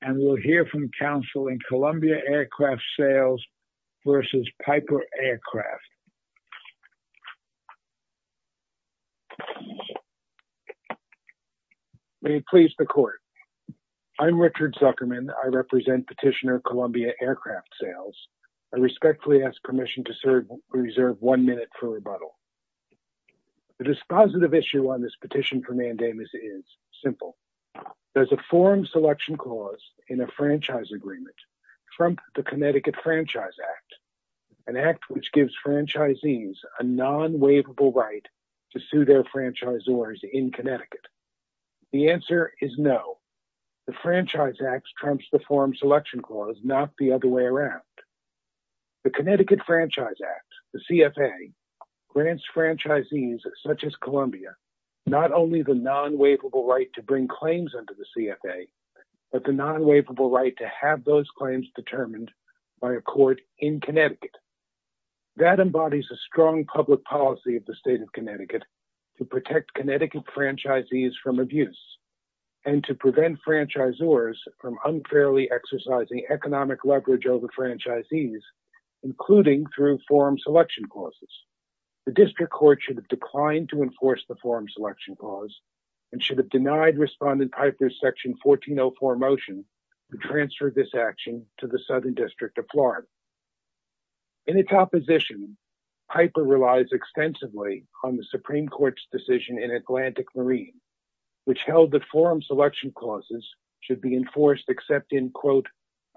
and we'll hear from counsel in Columbia Aircraft Sales v. Piper Aircraft. May it please the court. I'm Richard Zuckerman. I represent petitioner Columbia Aircraft Sales. I respectfully ask permission to reserve one minute for rebuttal. The dispositive issue on this petition for mandamus is simple. There's a forum selection clause in a franchise agreement from the Connecticut Franchise Act, an act which gives franchisees a non-waivable right to sue their franchisors in Connecticut. The answer is no. The Franchise Act trumps the forum selection clause, not the other way around. The Connecticut Franchise Act, the CFA, grants franchisees such as Columbia not only the non-waivable right to bring claims under the CFA, but the non-waivable right to have those claims determined by a court in Connecticut. That embodies a strong public policy of the state of Connecticut to protect Connecticut franchisees from abuse and to prevent franchisors from unfairly exercising economic leverage over franchisees, including through forum selection clause, and should have denied Respondent Piper's section 1404 motion to transfer this action to the Southern District of Florida. In its opposition, Piper relies extensively on the Supreme Court's decision in Atlantic Marine, which held that forum selection clauses should be enforced except in, quote,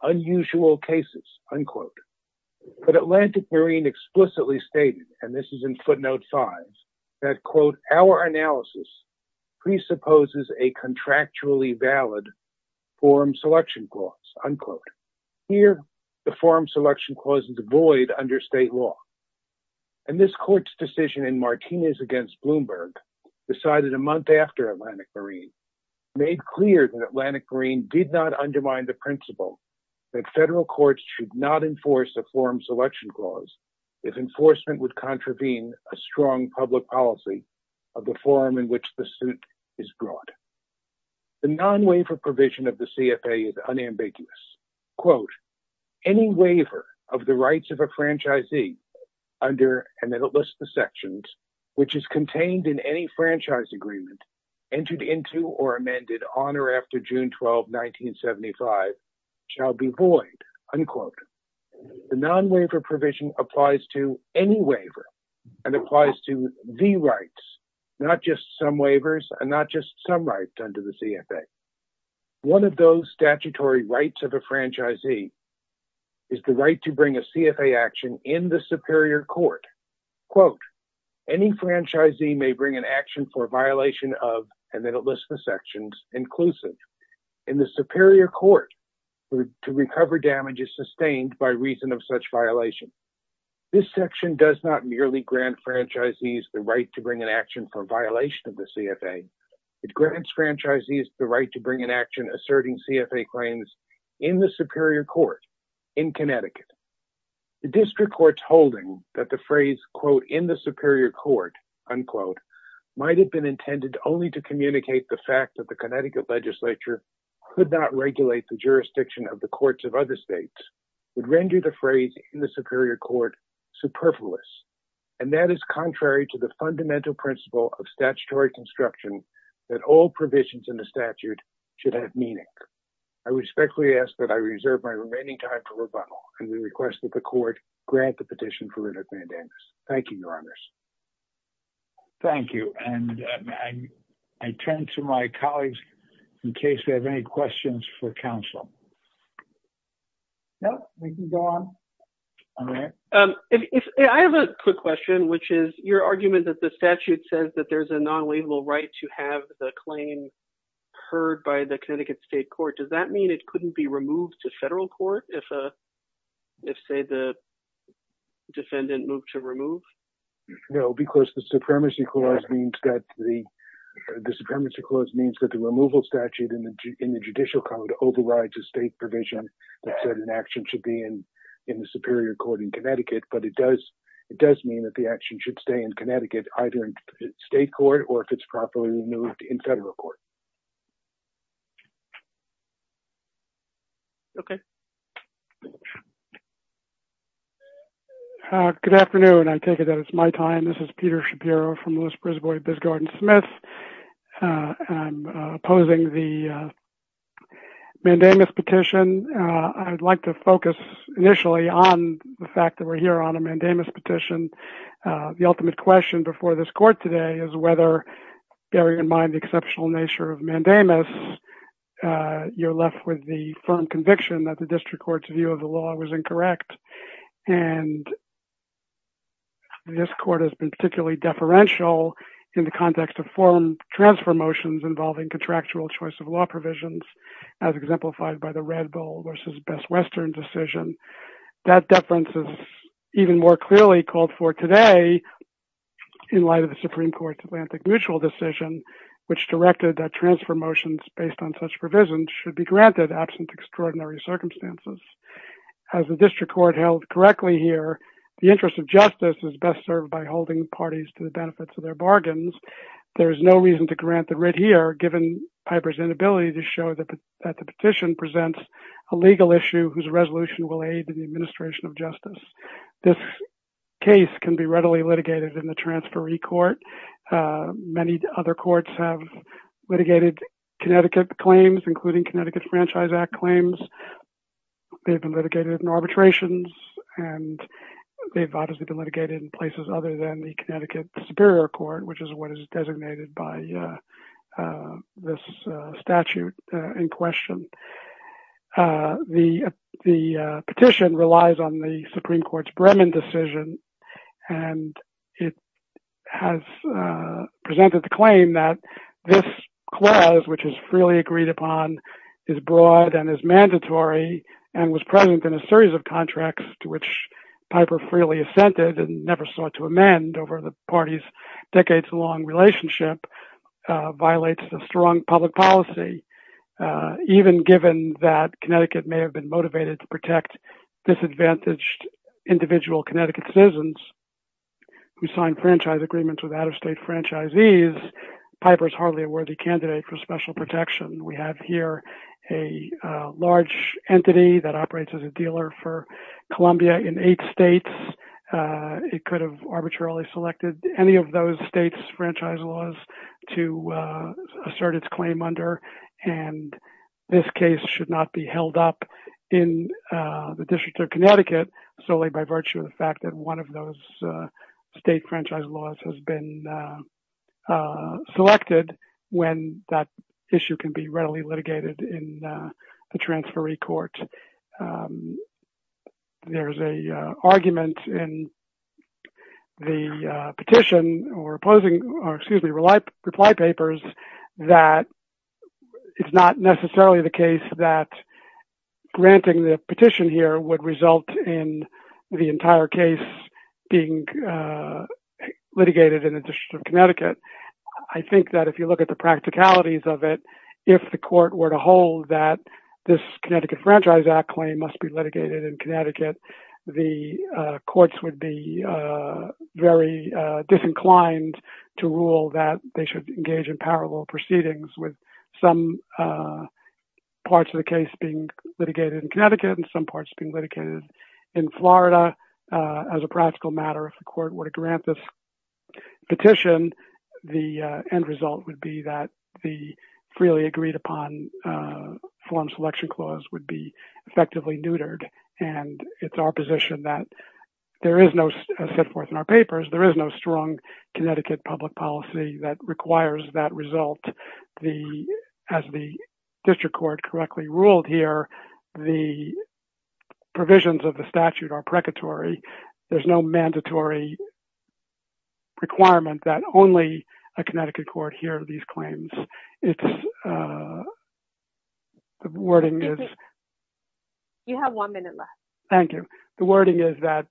unusual cases, unquote. But Atlantic Marine explicitly stated, and this is in footnote 5, that, quote, our analysis presupposes a contractually valid forum selection clause, unquote. Here, the forum selection clause is void under state law. And this court's decision in Martinez against Bloomberg, decided a month after Atlantic Marine, made clear that Atlantic Marine did not undermine the principle that federal courts should not if enforcement would contravene a strong public policy of the forum in which the suit is brought. The non-waiver provision of the CFA is unambiguous. Quote, any waiver of the rights of a franchisee under, and it lists the sections, which is contained in any franchise agreement, entered into or amended on or after June 12, 1975, shall be void, unquote. The non-waiver provision applies to any waiver and applies to the rights, not just some waivers and not just some rights under the CFA. One of those statutory rights of a franchisee is the right to bring a CFA action in the superior court. Quote, any franchisee may bring an action for violation of, and then it lists the sections, inclusive. In the superior court, to recover damage is sustained by reason of such violation. This section does not merely grant franchisees the right to bring an action for violation of the CFA. It grants franchisees the right to bring an action asserting CFA claims in the superior court in Connecticut. The district court's holding that the phrase, quote, in the superior court, unquote, might've been intended only to communicate the fact that the Connecticut legislature could not regulate the jurisdiction of the courts of other states, would render the phrase in the superior court superfluous. And that is contrary to the fundamental principle of statutory construction that all provisions in the statute should have meaning. I respectfully ask that I reserve my remaining time for rebuttal and we request that the court grant the petition for writ of mandamus. Thank you, your honors. Thank you. And I turned to my colleagues in case they have any questions for counsel. No, we can go on. All right. I have a quick question, which is your argument that the statute says that there's a non-waivable right to have the claim heard by the Connecticut state court. Does that mean it couldn't be removed to federal court if say the defendant moved to remove? No, because the supremacy clause means that the removal statute in the judicial code overrides a state provision that said an action should be in the superior court in Connecticut. But it does mean that the action should stay in Connecticut, either in state court or if it's properly removed in federal court. Okay. Good afternoon. I take it that it's my time. This is Peter Shapiro from the Smith. I'm opposing the mandamus petition. I'd like to focus initially on the fact that we're here on a mandamus petition. The ultimate question before this court today is whether, bearing in mind the exceptional nature of mandamus, you're left with the firm conviction that the district court's view of the law was incorrect. And this court has been particularly deferential in the context of form transfer motions involving contractual choice of law provisions, as exemplified by the Red Bull versus Best Western decision. That deference is even more clearly called for today in light of the Supreme Court's Atlantic Mutual decision, which directed that transfer motions based on such provisions should be granted absent extraordinary circumstances. As the district court held correctly here, the interest of justice is best served by holding parties to the benefits of their bargains. There is no reason to grant the writ here, given Piper's inability to show that the petition presents a legal issue whose resolution will aid in the administration of justice. This case can be readily litigated in the transferee court. Many other courts have franchise act claims. They've been litigated in arbitrations, and they've obviously been litigated in places other than the Connecticut Superior Court, which is what is designated by this statute in question. The petition relies on the Supreme Court's Bremen decision, and it has presented the claim that this clause, which is freely agreed upon, is broad and is mandatory and was present in a series of contracts to which Piper freely assented and never sought to amend over the party's decades-long relationship, violates the strong public policy, even given that Connecticut may have been motivated to protect disadvantaged individual Connecticut citizens who signed franchise agreements with out-of-state franchisees. Piper's hardly a worthy candidate for special protection. We have here a large entity that operates as a dealer for Columbia in eight states. It could have arbitrarily selected any of those states' franchise laws to assert its claim under, and this case should not be held up in the District of Connecticut solely by virtue of the fact that one of those state franchise laws has been selected when that issue can be readily litigated in the transferee court. There is an argument in the petition or reply papers that it's not necessarily the case that granting the petition here would result in the entire case being litigated in the District of Connecticut. I think that if you look at the practicalities of it, if the court were to hold that this Connecticut Franchise Act claim must be litigated in Connecticut, the courts would be very disinclined to rule that they should engage in parallel proceedings with some parts of the case being litigated in Connecticut and some parts being litigated in Florida. As a practical matter, if the court were to grant this petition, the end result would be that the freely agreed-upon form selection clause would be effectively neutered, and it's our position that, as set forth in our papers, there is no strong Connecticut public policy that requires that result. As the district court correctly ruled here, the provisions of the statute are precatory. There's no mandatory requirement that only a Connecticut court hear these claims. The wording is that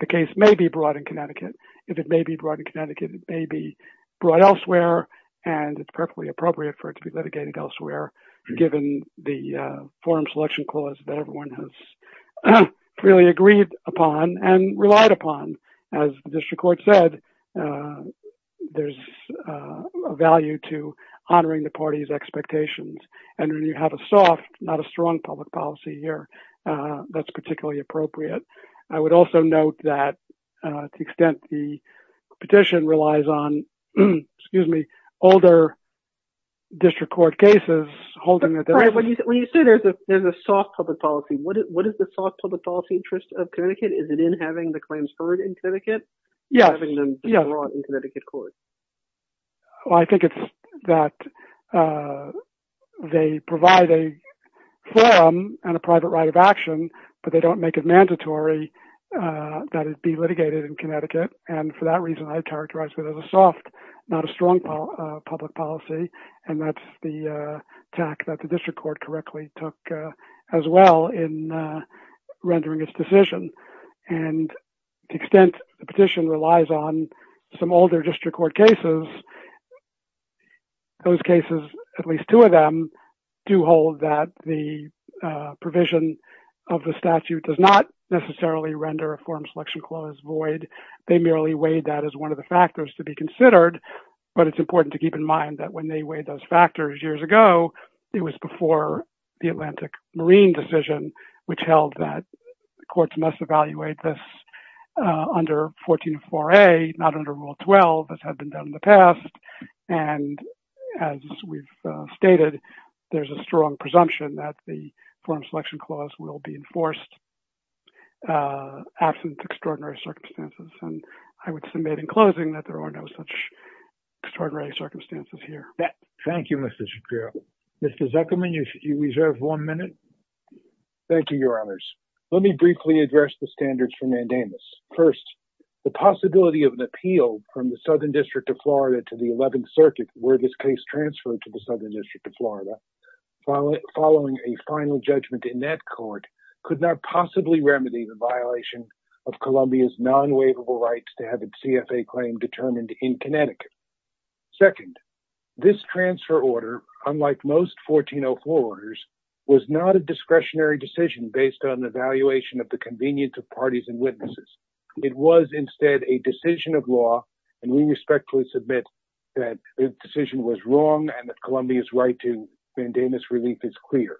the case may be brought in Connecticut. If it may be brought in Connecticut, it may be brought elsewhere, and it's perfectly appropriate for it to be litigated elsewhere, given the forum selection clause that everyone has freely agreed upon and relied upon. As the soft, not a strong public policy here, that's particularly appropriate. I would also note that to the extent the petition relies on older district court cases holding that there's a soft public policy. What is the soft public policy interest of Connecticut? Is it in having the claims heard in Connecticut or having them brought in Connecticut court? I think it's that they provide a forum and a private right of action, but they don't make it mandatory that it be litigated in Connecticut. For that reason, I'd characterize it as a soft, not a strong public policy, and that's the tack that the district court correctly took as well in rendering its decision. To the extent the petition relies on some older district court cases, those cases, at least two of them, do hold that the provision of the statute does not necessarily render a forum selection clause void. They merely weighed that as one of the factors to be considered, but it's important to keep in mind that when they weighed those factors years ago, it was before the Atlantic Marine decision, which held that the courts must evaluate this under 144A, not under Rule 12, as had been done in the past. As we've stated, there's a strong presumption that the forum selection clause will be enforced absent extraordinary circumstances. I would submit in closing that there are no such extraordinary circumstances here. Thank you, Mr. Shapiro. Mr. Zuckerman, you reserve one minute. Thank you, Your Honors. Let me briefly address the standards for mandamus. First, the possibility of an appeal from the Southern District of Florida to the 11th Circuit where this case transferred to the Southern District of Florida, following a final judgment in that court, could not possibly remedy the violation of Columbia's non-waivable rights to have a CFA claim determined in Connecticut. Second, this transfer order, unlike most 1404 orders, was not a discretionary decision based on the valuation of the convenience of parties and witnesses. It was instead a decision of law, and we respectfully submit that the decision was wrong and that Columbia's right to mandamus relief is clear.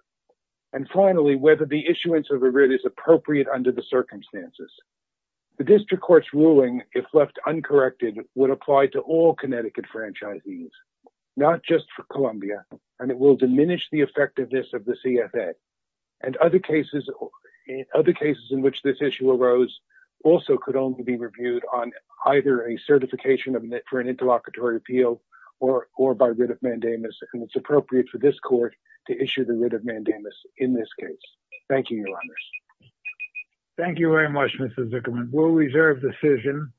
And finally, whether the issuance of a writ is appropriate under the circumstances. The district court's ruling, if left uncorrected, would apply to all Connecticut franchisees, not just for Columbia, and it will diminish the effectiveness of the CFA. And other cases in which this issue arose also could only be reviewed on either a certification for an interlocutory appeal or by writ of mandamus, and it's appropriate for this court to issue a writ of mandamus in this case. Thank you, Your Honors. Thank you very much, Mr. Zuckerman. We'll reserve the decision.